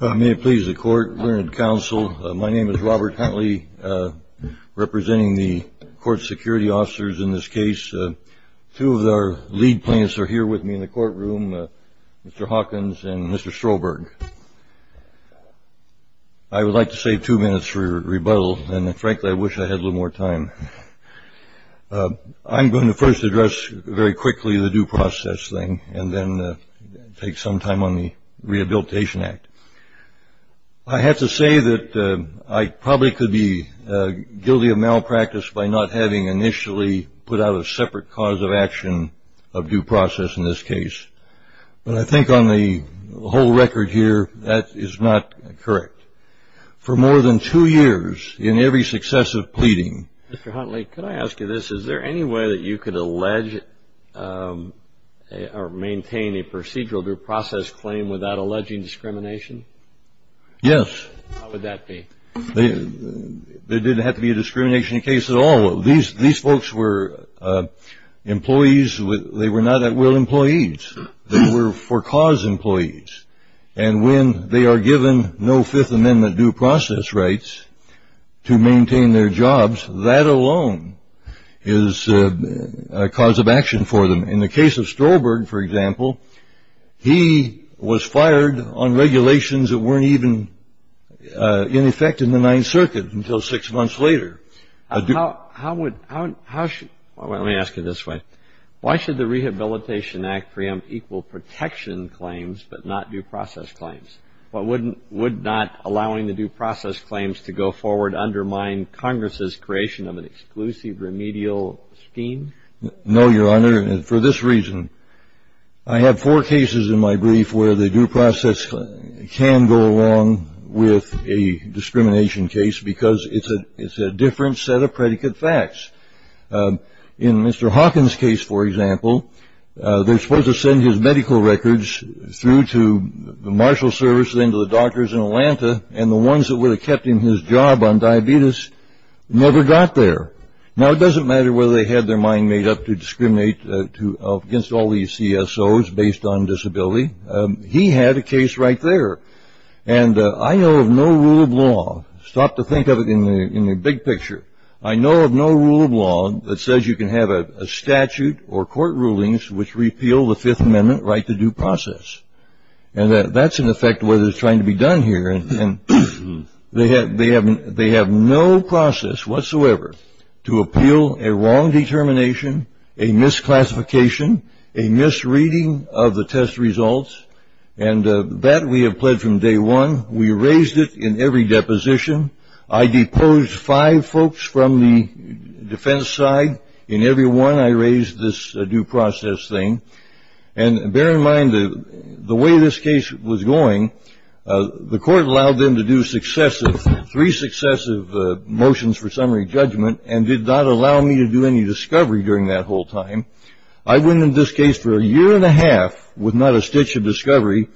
May it please the Court, Learned Counsel, my name is Robert Huntley. Representing the court security officers in this case, two of our lead plaintiffs are here with me in the courtroom, Mr. Hawkins and Mr. Strolberg. I would like to save two minutes for rebuttal, and frankly I wish I had a little more time. I'm going to first address very quickly the due process thing, and then take some time on the Rehabilitation Act. I have to say that I probably could be guilty of malpractice by not having initially put out a separate cause of action of due process in this case. But I think on the whole record here, that is not correct. For more than two years, in every successive pleading... Mr. Huntley, can I ask you this? Is there any way that you could allege or maintain a procedural due process claim without alleging discrimination? Yes. How would that be? There didn't have to be a discrimination case at all. These folks were employees. They were not at will employees. They were for cause employees. And when they are given no Fifth Amendment due process rights to maintain their jobs, that alone is a cause of action for them. In the case of Strolberg, for example, he was fired on regulations that weren't even in effect in the Ninth Circuit until six months later. How would... Let me ask you this way. Why should the Rehabilitation Act preempt equal protection claims but not due process claims? Would not allowing the due process claims to go forward undermine Congress's creation of an exclusive remedial scheme? No, Your Honor. And for this reason, I have four cases in my brief where the due process can go along with a discrimination case because it's a different set of predicate facts. In Mr. Hawkins' case, for example, they're supposed to send his medical records through to the marshal service, then to the doctors in Atlanta, and the ones that would have kept him his job on diabetes never got there. Now, it doesn't matter whether they had their mind made up to discriminate against all these CSOs based on disability. He had a case right there. And I know of no rule of law. Stop to think of it in the big picture. I know of no rule of law that says you can have a statute or court rulings which repeal the Fifth Amendment right to due process. And that's, in effect, what is trying to be done here. And they have no process whatsoever to appeal a wrong determination, a misclassification, a misreading of the test results. And that we have pled from day one. We raised it in every deposition. I deposed five folks from the defense side. In every one, I raised this due process thing. And bear in mind, the way this case was going, the court allowed them to do successive, three successive motions for summary judgment, and did not allow me to do any discovery during that whole time. I went into this case for a year and a half with not a stitch of discovery.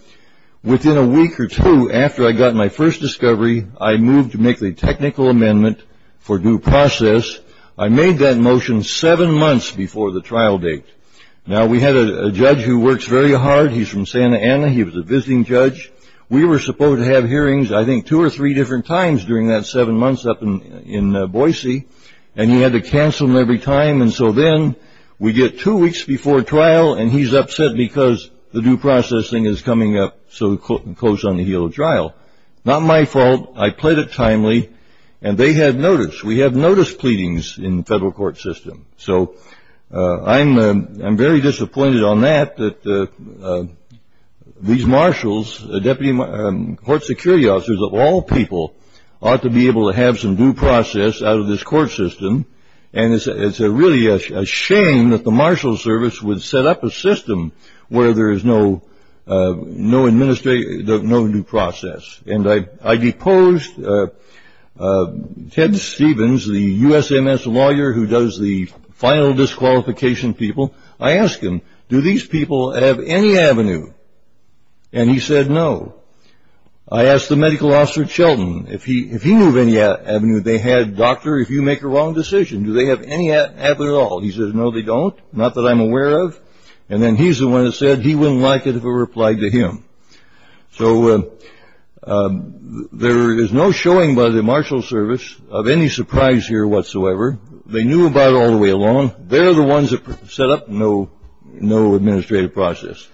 Within a week or two after I got my first discovery, I moved to make the technical amendment for due process. I made that motion seven months before the trial date. Now, we had a judge who works very hard. He's from Santa Ana. He was a visiting judge. We were supposed to have hearings, I think, two or three different times during that seven months up in Boise. And he had to cancel them every time. And so then we get two weeks before trial, and he's upset because the due process thing is coming up so close on the heel of trial. Not my fault. I pled it timely. And they had notice. We have notice pleadings in the federal court system. So I'm very disappointed on that, that these marshals, the deputy court security officers of all people, ought to be able to have some due process out of this court system. And it's really a shame that the marshal service would set up a system where there is no due process. And I deposed Ted Stevens, the USMS lawyer who does the final disqualification people. I asked him, do these people have any avenue? And he said no. I asked the medical officer, Chilton, if he knew of any avenue. And they had, doctor, if you make a wrong decision, do they have any avenue at all? He says no, they don't. Not that I'm aware of. And then he's the one that said he wouldn't like it if it were applied to him. So there is no showing by the marshal service of any surprise here whatsoever. They knew about it all the way along. They're the ones that set up no administrative process.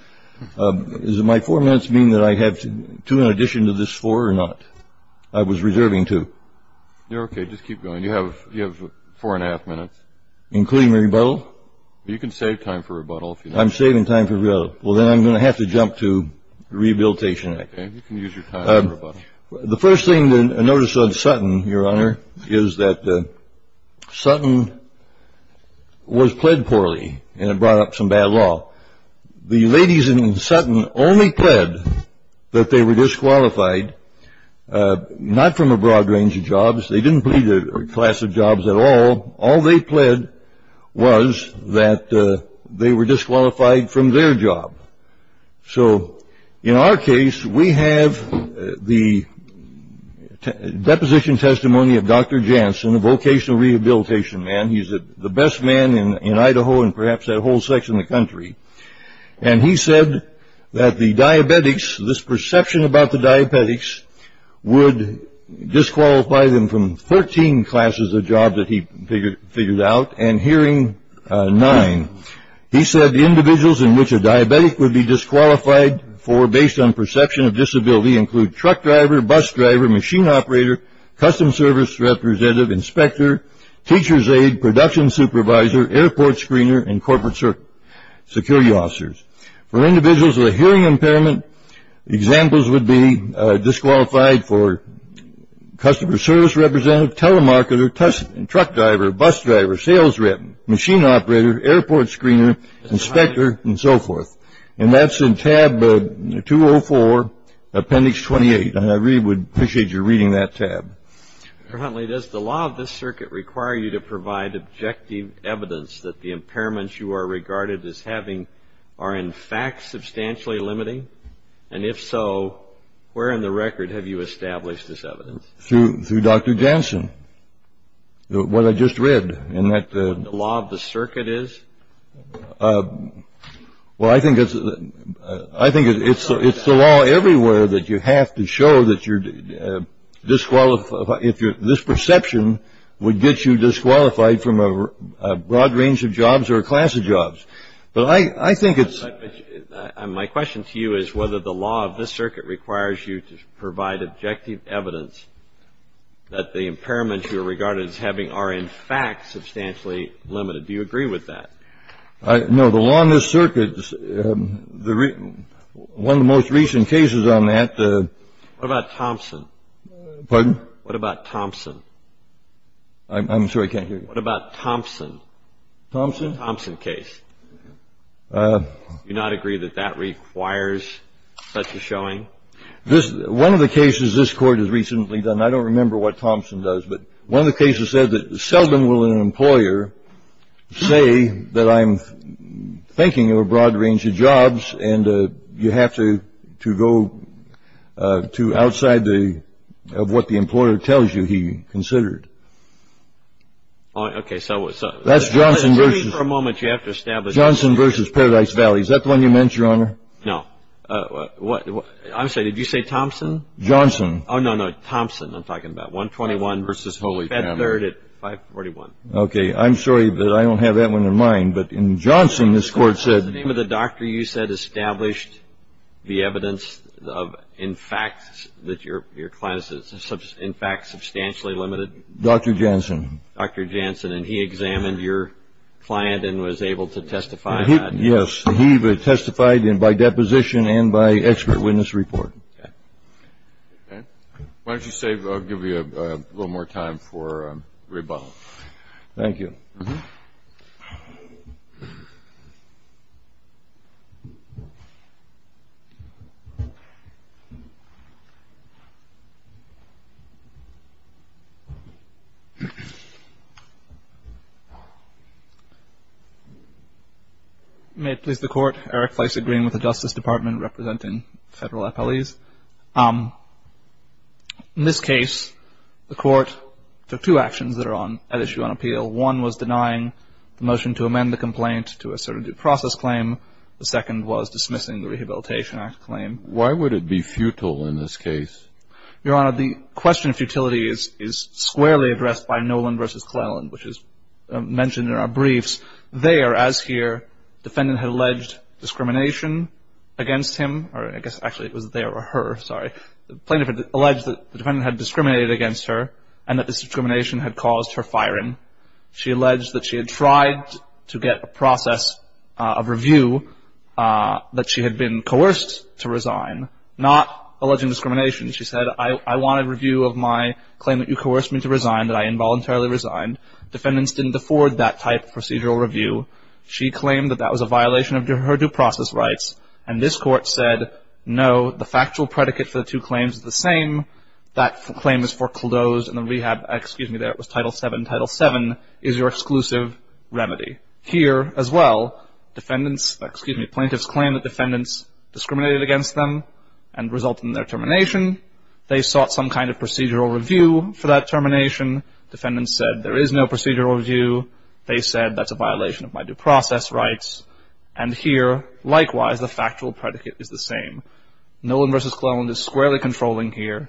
Does my four months mean that I have two in addition to this four or not? I was reserving two. You're okay. Just keep going. You have four and a half minutes. Including rebuttal? You can save time for rebuttal. I'm saving time for rebuttal. Well, then I'm going to have to jump to rehabilitation. Okay. You can use your time for rebuttal. The first thing to notice on Sutton, Your Honor, is that Sutton was pled poorly, and it brought up some bad law. The ladies in Sutton only pled that they were disqualified not from a broad range of jobs. They didn't plead a class of jobs at all. All they pled was that they were disqualified from their job. So in our case, we have the deposition testimony of Dr. Jansen, a vocational rehabilitation man. He's the best man in Idaho and perhaps that whole section of the country. And he said that the diabetics, this perception about the diabetics, would disqualify them from 13 classes of jobs that he figured out and hearing nine. He said the individuals in which a diabetic would be disqualified for based on perception of disability include truck driver, bus driver, machine operator, custom service representative, inspector, teacher's aide, production supervisor, airport screener, and corporate security officers. For individuals with a hearing impairment, examples would be disqualified for customer service representative, telemarketer, truck driver, bus driver, sales rep, machine operator, airport screener, inspector, and so forth. And that's in tab 204, appendix 28. And I really would appreciate your reading that tab. Currently, does the law of this circuit require you to provide objective evidence that the impairments you are regarded as having are, in fact, substantially limiting? And if so, where in the record have you established this evidence? Through Dr. Jansen, what I just read. The law of the circuit is? Well, I think it's the law everywhere that you have to show that you're disqualified. This perception would get you disqualified from a broad range of jobs or a class of jobs. But I think it's. My question to you is whether the law of this circuit requires you to provide objective evidence that the impairments you are regarded as having are, in fact, substantially limited. Do you agree with that? No. The law in this circuit, one of the most recent cases on that. What about Thompson? Pardon? What about Thompson? I'm sorry. I can't hear you. What about Thompson? Thompson? Thompson case. Do you not agree that that requires such a showing? One of the cases this Court has recently done, I don't remember what Thompson does, but one of the cases said that seldom will an employer say that I'm thinking of a broad range of jobs and you have to go to outside of what the employer tells you he considered. Okay, so. That's Johnson versus. For a moment you have to establish. Johnson versus Paradise Valley. Is that the one you meant, Your Honor? No. I'm sorry. Did you say Thompson? Johnson. Oh, no, no. Thompson I'm talking about. 121 versus Bedford at 541. Okay. I'm sorry, but I don't have that one in mind. But in Johnson, this Court said. In the name of the doctor, you said established the evidence of, in fact, that your client is, in fact, substantially limited. Dr. Janssen. Dr. Janssen. And he examined your client and was able to testify. Yes. And by deposition and by expert witness report. Okay. Why don't you say, I'll give you a little more time for rebuttal. Thank you. May it please the Court. Eric Fleisig, Green with the Justice Department, representing federal appellees. In this case, the Court took two actions that are at issue on appeal. One was denying the motion to amend the complaint to assert a due process claim. The second was dismissing the Rehabilitation Act claim. Why would it be futile in this case? Your Honor, the question of futility is squarely addressed by Nolan versus Cleland, which is mentioned in our briefs. There, as here, defendant had alleged discrimination against him, or I guess actually it was there or her, sorry. The plaintiff had alleged that the defendant had discriminated against her and that this discrimination had caused her firing. She alleged that she had tried to get a process of review, that she had been coerced to resign, not alleging discrimination. She said, I want a review of my claim that you coerced me to resign, that I involuntarily resigned. Defendants didn't afford that type of procedural review. She claimed that that was a violation of her due process rights. And this Court said, no, the factual predicate for the two claims is the same. That claim is foreclosed, and the rehab, excuse me there, it was Title VII, Title VII is your exclusive remedy. Here, as well, defendants, excuse me, plaintiffs claimed that defendants discriminated against them and resulted in their termination. They sought some kind of procedural review for that termination. Defendants said there is no procedural review. They said that's a violation of my due process rights. And here, likewise, the factual predicate is the same. Nolan v. Cleland is squarely controlling here,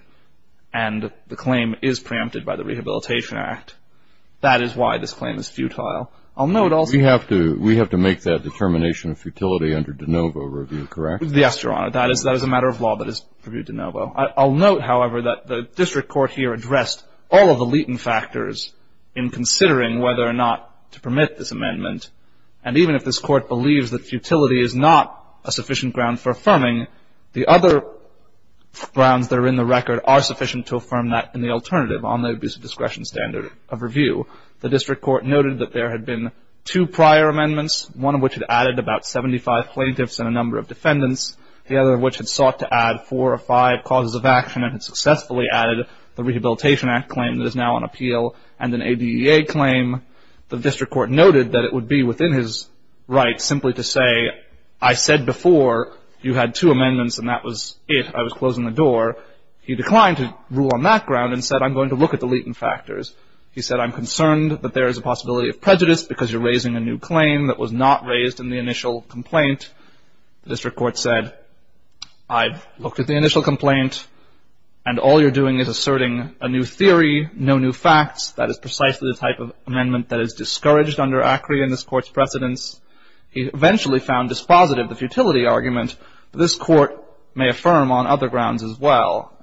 and the claim is preempted by the Rehabilitation Act. That is why this claim is futile. I'll note also- We have to make that determination of futility under de novo review, correct? Yes, Your Honor. That is a matter of law that is reviewed de novo. I'll note, however, that the District Court here addressed all of the latent factors in considering whether or not to permit this amendment. And even if this Court believes that futility is not a sufficient ground for affirming, the other grounds that are in the record are sufficient to affirm that in the alternative on the abuse of discretion standard of review. The District Court noted that there had been two prior amendments, one of which had added about 75 plaintiffs and a number of defendants, the other of which had sought to add four or five causes of action and had successfully added the Rehabilitation Act claim that is now on appeal and an ADEA claim. The District Court noted that it would be within his rights simply to say, I said before you had two amendments and that was it. I was closing the door. He declined to rule on that ground and said, I'm going to look at the latent factors. He said, I'm concerned that there is a possibility of prejudice because you're raising a new claim that was not raised in the initial complaint. The District Court said, I've looked at the initial complaint, and all you're doing is asserting a new theory, no new facts. That is precisely the type of amendment that is discouraged under ACRI in this Court's precedence. He eventually found dispositive the futility argument. This Court may affirm on other grounds as well.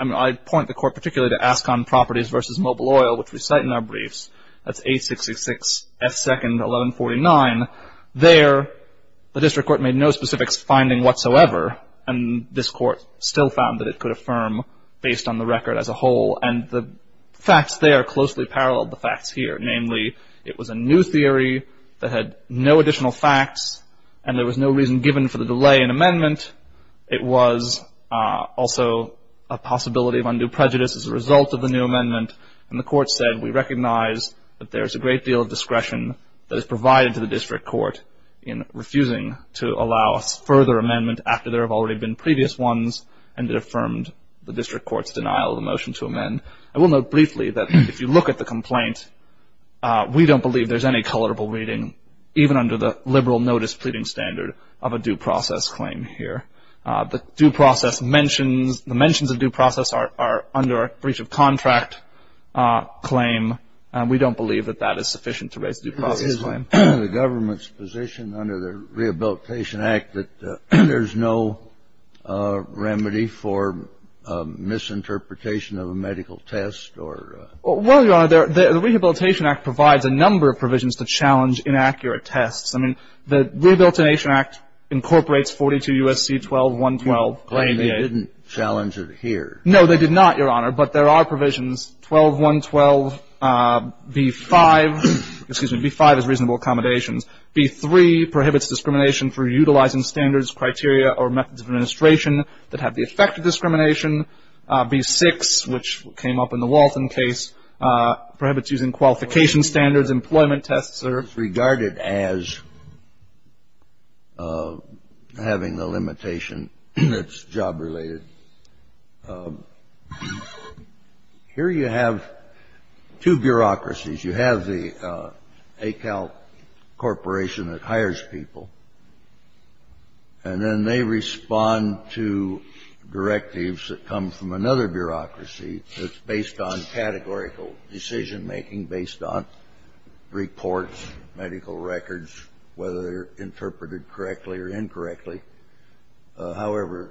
I point the Court particularly to Ascon Properties v. Mobile Oil, which we cite in our briefs. That's 866-F2-1149. There, the District Court made no specific finding whatsoever, and this Court still found that it could affirm based on the record as a whole. And the facts there closely paralleled the facts here. Namely, it was a new theory that had no additional facts, and there was no reason given for the delay in amendment. It was also a possibility of undue prejudice as a result of the new amendment. And the Court said, we recognize that there is a great deal of discretion that is provided to the District Court in refusing to I will note briefly that if you look at the complaint, we don't believe there's any colorable reading, even under the liberal notice pleading standard of a due process claim here. The due process mentions, the mentions of due process are under a breach of contract claim. We don't believe that that is sufficient to raise a due process claim. The government's position under the Rehabilitation Act that there's no remedy for misinterpretation of a medical test or Well, Your Honor, the Rehabilitation Act provides a number of provisions to challenge inaccurate tests. I mean, the Rehabilitation Act incorporates 42 U.S.C. 12-112. They didn't challenge it here. No, they did not, Your Honor. But there are provisions, 12-112. B-5, excuse me, B-5 is reasonable accommodations. B-3 prohibits discrimination for utilizing standards, criteria, or methods of administration that have the effect of discrimination. B-6, which came up in the Walton case, prohibits using qualification standards, employment tests, or It's regarded as having the limitation that's job-related. Here you have two bureaucracies. You have the ACAL Corporation that hires people, and then they respond to directives that come from another bureaucracy that's based on categorical decision-making, based on reports, medical records, whether they're interpreted correctly or incorrectly. However,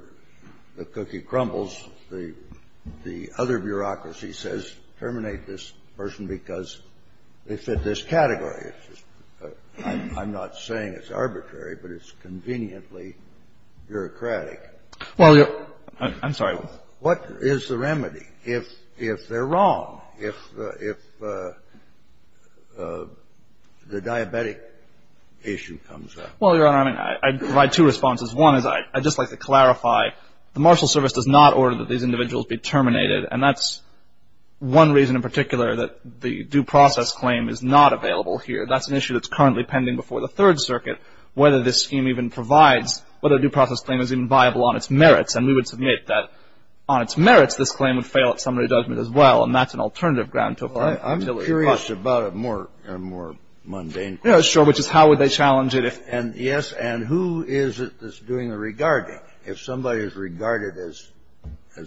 the cookie crumbles. The other bureaucracy says terminate this person because they fit this category. I'm not saying it's arbitrary, but it's conveniently bureaucratic. Well, Your Honor, I'm sorry. What is the remedy? If they're wrong, if the diabetic issue comes up? Well, Your Honor, I mean, I'd provide two responses. One is I'd just like to clarify. The Marshal Service does not order that these individuals be terminated, and that's one reason in particular that the due process claim is not available here. That's an issue that's currently pending before the Third Circuit, whether this scheme even provides, whether a due process claim is even viable on its merits. And we would submit that on its merits, this claim would fail at summary judgment as well, and that's an alternative ground to apply. I'm curious about a more mundane question. Yeah, sure, which is how would they challenge it if — Yes, and who is it that's doing the regarding? If somebody is regarded as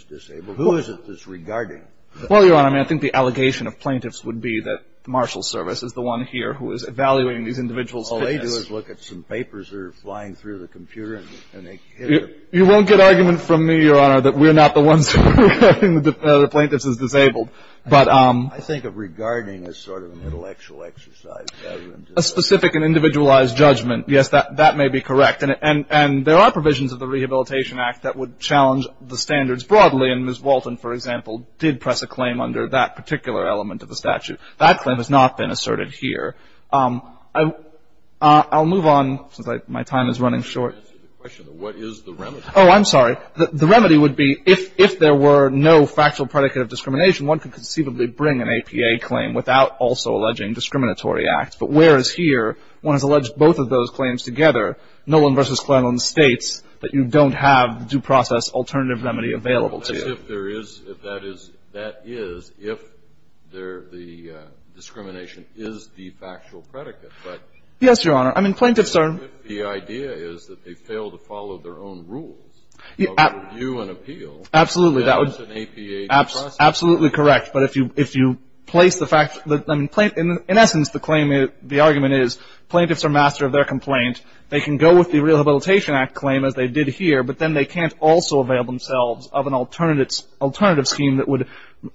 disabled, who is it that's regarding? Well, Your Honor, I mean, I think the allegation of plaintiffs would be that the Marshal Service is the one here who is evaluating these individuals' fitness. All they do is look at some papers that are flying through the computer, and they hit a button, and they say, well, you know what? We're not going to do that. You won't get argument from me, Your Honor, that we're not the ones who are having the plaintiffs as disabled. But — I think of regarding as sort of an intellectual exercise rather than just — A specific and individualized judgment, yes, that may be correct. And there are provisions of the Rehabilitation Act that would challenge the standards broadly, and Ms. Walton, for example, did press a claim under that particular element of the statute. That claim has not been asserted here. I'll move on since my time is running short. Answer the question, though. What is the remedy? Oh, I'm sorry. The remedy would be if there were no factual predicate of discrimination, one could conceivably bring an APA claim without also alleging discriminatory acts. But whereas here, one has alleged both of those claims together, Noland v. to you. That is, if the discrimination is the factual predicate. Yes, Your Honor. I mean, plaintiffs are — The idea is that they fail to follow their own rules of review and appeal. Absolutely. That is an APA process. Absolutely correct. But if you place the fact — I mean, in essence, the claim — the argument is plaintiffs are master of their complaint. They can go with the Rehabilitation Act claim as they did here, but then they can't also avail themselves of an alternative scheme that would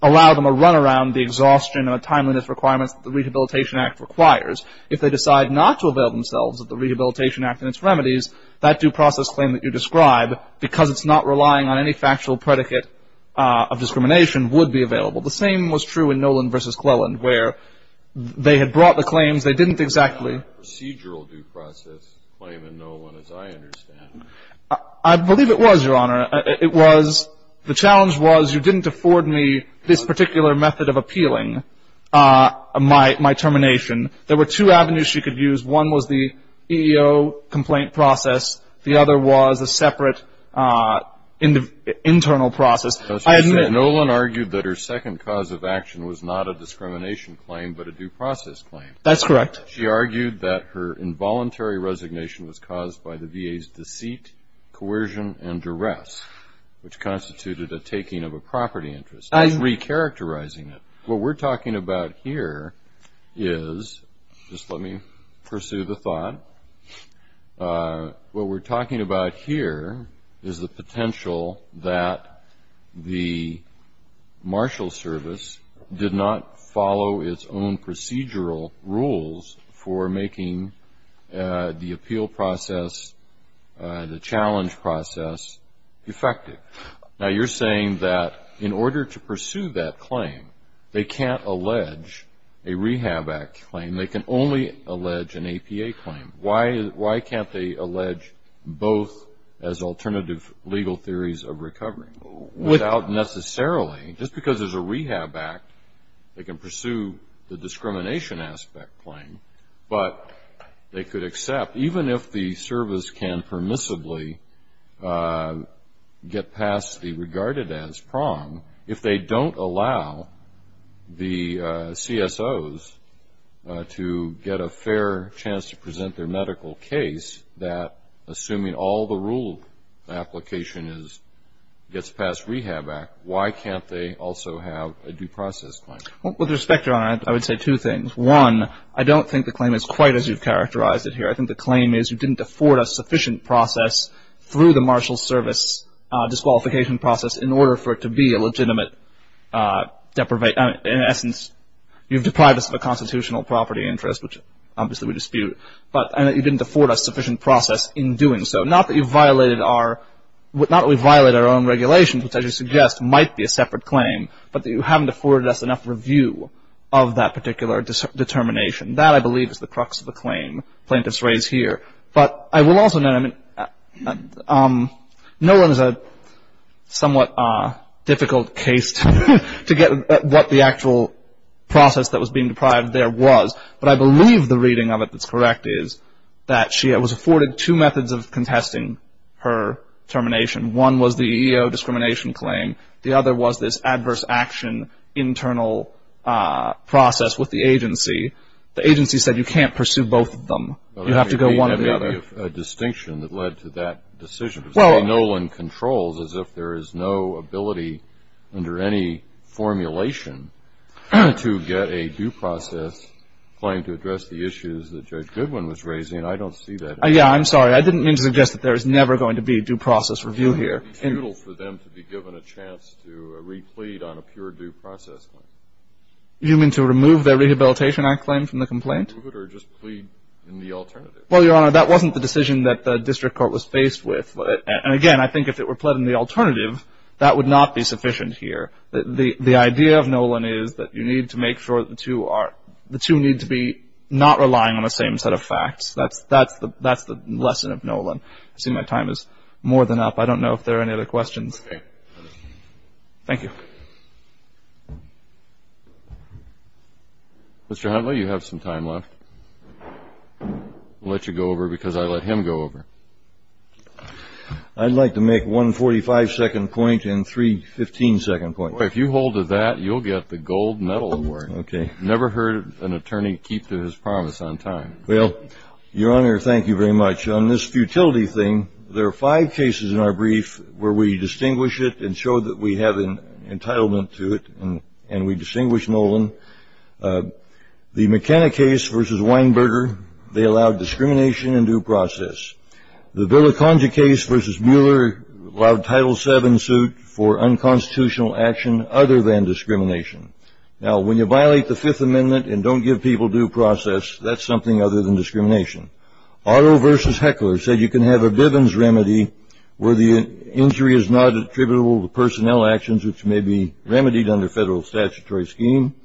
allow them a run around the exhaustion and timeliness requirements that the Rehabilitation Act requires. If they decide not to avail themselves of the Rehabilitation Act and its remedies, that due process claim that you describe, because it's not relying on any factual predicate of discrimination, would be available. The same was true in Noland v. Cleland, where they had brought the claims. They didn't exactly — It's not a procedural due process claim in Noland, as I understand it. I believe it was, Your Honor. It was. The challenge was you didn't afford me this particular method of appealing my termination. There were two avenues she could use. One was the EEO complaint process. The other was a separate internal process. Noland argued that her second cause of action was not a discrimination claim but a due process claim. That's correct. She argued that her involuntary resignation was caused by the VA's deceit, coercion, and duress, which constituted a taking of a property interest. She's recharacterizing it. What we're talking about here is — just let me pursue the thought. What we're talking about here is the potential that the marshal service did not follow its own procedural rules for making the appeal process, the challenge process, effective. Now, you're saying that in order to pursue that claim, they can't allege a Rehab Act claim. And they can only allege an APA claim. Why can't they allege both as alternative legal theories of recovery? Without necessarily — just because there's a Rehab Act, they can pursue the discrimination aspect claim. But they could accept, even if the service can permissibly get past the regarded-as prong, if they don't allow the CSOs to get a fair chance to present their medical case, that assuming all the rule application is — gets past Rehab Act, why can't they also have a due process claim? With respect, Your Honor, I would say two things. One, I don't think the claim is quite as you've characterized it here. I think the claim is you didn't afford a sufficient process through the marshal service disqualification process in order for it to be a legitimate deprivation — in essence, you've deprived us of a constitutional property interest, which obviously we dispute. But you didn't afford a sufficient process in doing so. Not that you've violated our — not that we've violated our own regulations, which I just suggest might be a separate claim, but that you haven't afforded us enough review of that particular determination. That, I believe, is the crux of the claim plaintiffs raise here. But I will also — no one is a somewhat difficult case to get what the actual process that was being deprived there was, but I believe the reading of it that's correct is that she was afforded two methods of contesting her termination. One was the EEO discrimination claim. The other was this adverse action internal process with the agency. The agency said you can't pursue both of them. You have to go one or the other. Well, that may be a distinction that led to that decision. Say Nolan controls as if there is no ability under any formulation to get a due process claim to address the issues that Judge Goodwin was raising. I don't see that. Yeah, I'm sorry. I didn't mean to suggest that there is never going to be a due process review here. It would be futile for them to be given a chance to re-plead on a pure due process claim. You mean to remove their Rehabilitation Act claim from the complaint? Or just plead in the alternative? Well, Your Honor, that wasn't the decision that the district court was faced with. And, again, I think if it were pled in the alternative, that would not be sufficient here. The idea of Nolan is that you need to make sure the two need to be not relying on the same set of facts. That's the lesson of Nolan. I see my time is more than up. I don't know if there are any other questions. Okay. Thank you. Mr. Huntley, you have some time left. I'll let you go over because I let him go over. I'd like to make one 45-second point and three 15-second points. If you hold to that, you'll get the gold medal award. Okay. I've never heard an attorney keep to his promise on time. Well, Your Honor, thank you very much. On this futility thing, there are five cases in our brief where we distinguish it and show that we have an entitlement to it and we distinguish Nolan. The McKenna case versus Weinberger, they allowed discrimination and due process. The Villiconga case versus Mueller allowed Title VII suit for unconstitutional action other than discrimination. Now, when you violate the Fifth Amendment and don't give people due process, that's something other than discrimination. Otto versus Heckler said you can have a Bivens remedy where the injury is not attributable to personnel actions, which may be remedied under federal statutory scheme.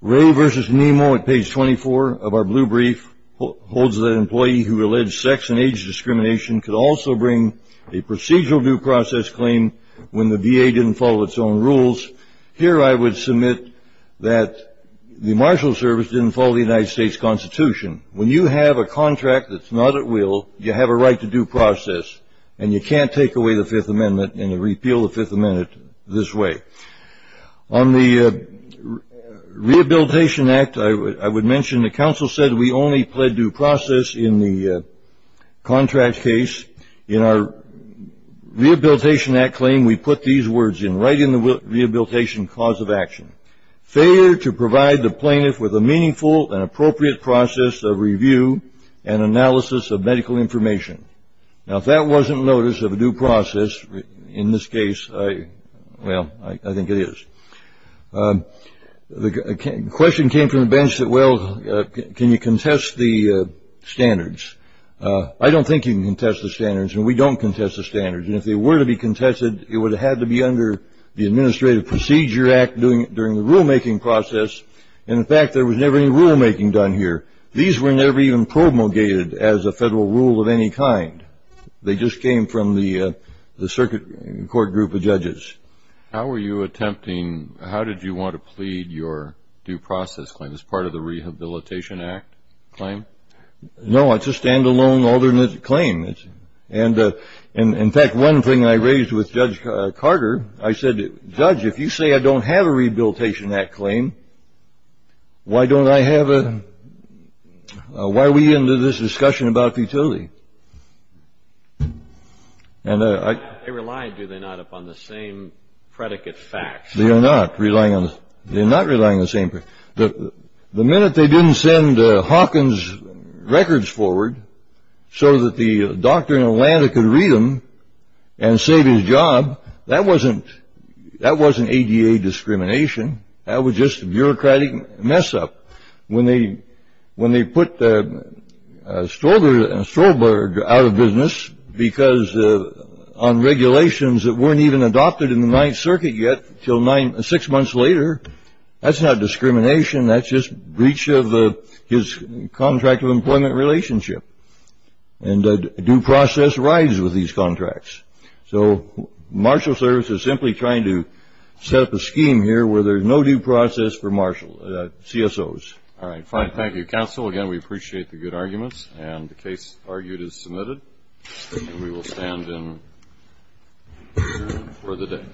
Ray versus Nemo at page 24 of our blue brief holds that an employee who alleged sex and age discrimination could also bring a procedural due process claim when the VA didn't follow its own rules. Here I would submit that the Marshal Service didn't follow the United States Constitution. When you have a contract that's not at will, you have a right to due process, and you can't take away the Fifth Amendment and repeal the Fifth Amendment this way. On the Rehabilitation Act, I would mention the counsel said we only plead due process in the contract case. In our Rehabilitation Act claim, we put these words in right in the rehabilitation cause of action. Failure to provide the plaintiff with a meaningful and appropriate process of review and analysis of medical information. Now, if that wasn't notice of a due process in this case, well, I think it is. The question came from the bench that, well, can you contest the standards? I don't think you can contest the standards, and we don't contest the standards. And if they were to be contested, it would have had to be under the Administrative Procedure Act during the rulemaking process, and, in fact, there was never any rulemaking done here. These were never even promulgated as a federal rule of any kind. They just came from the circuit court group of judges. How were you attempting, how did you want to plead your due process claim as part of the Rehabilitation Act claim? No, it's a standalone, alternate claim. And, in fact, one thing I raised with Judge Carter, I said, Judge, if you say I don't have a Rehabilitation Act claim, why don't I have a, why are we into this discussion about futility? They rely, do they not, upon the same predicate facts? They are not relying on, they're not relying on the same, The minute they didn't send Hawkins' records forward so that the doctor in Atlanta could read them and save his job, that wasn't ADA discrimination. That was just a bureaucratic mess-up. When they put Stroberg out of business because on regulations that weren't even adopted in the Ninth Circuit yet until six months later, that's not discrimination, that's just breach of his contract of employment relationship. And due process rides with these contracts. So Marshall Service is simply trying to set up a scheme here where there's no due process for CSOs. All right, fine. Thank you, counsel. Again, we appreciate the good arguments, and the case argued is submitted. We will stand in for the day.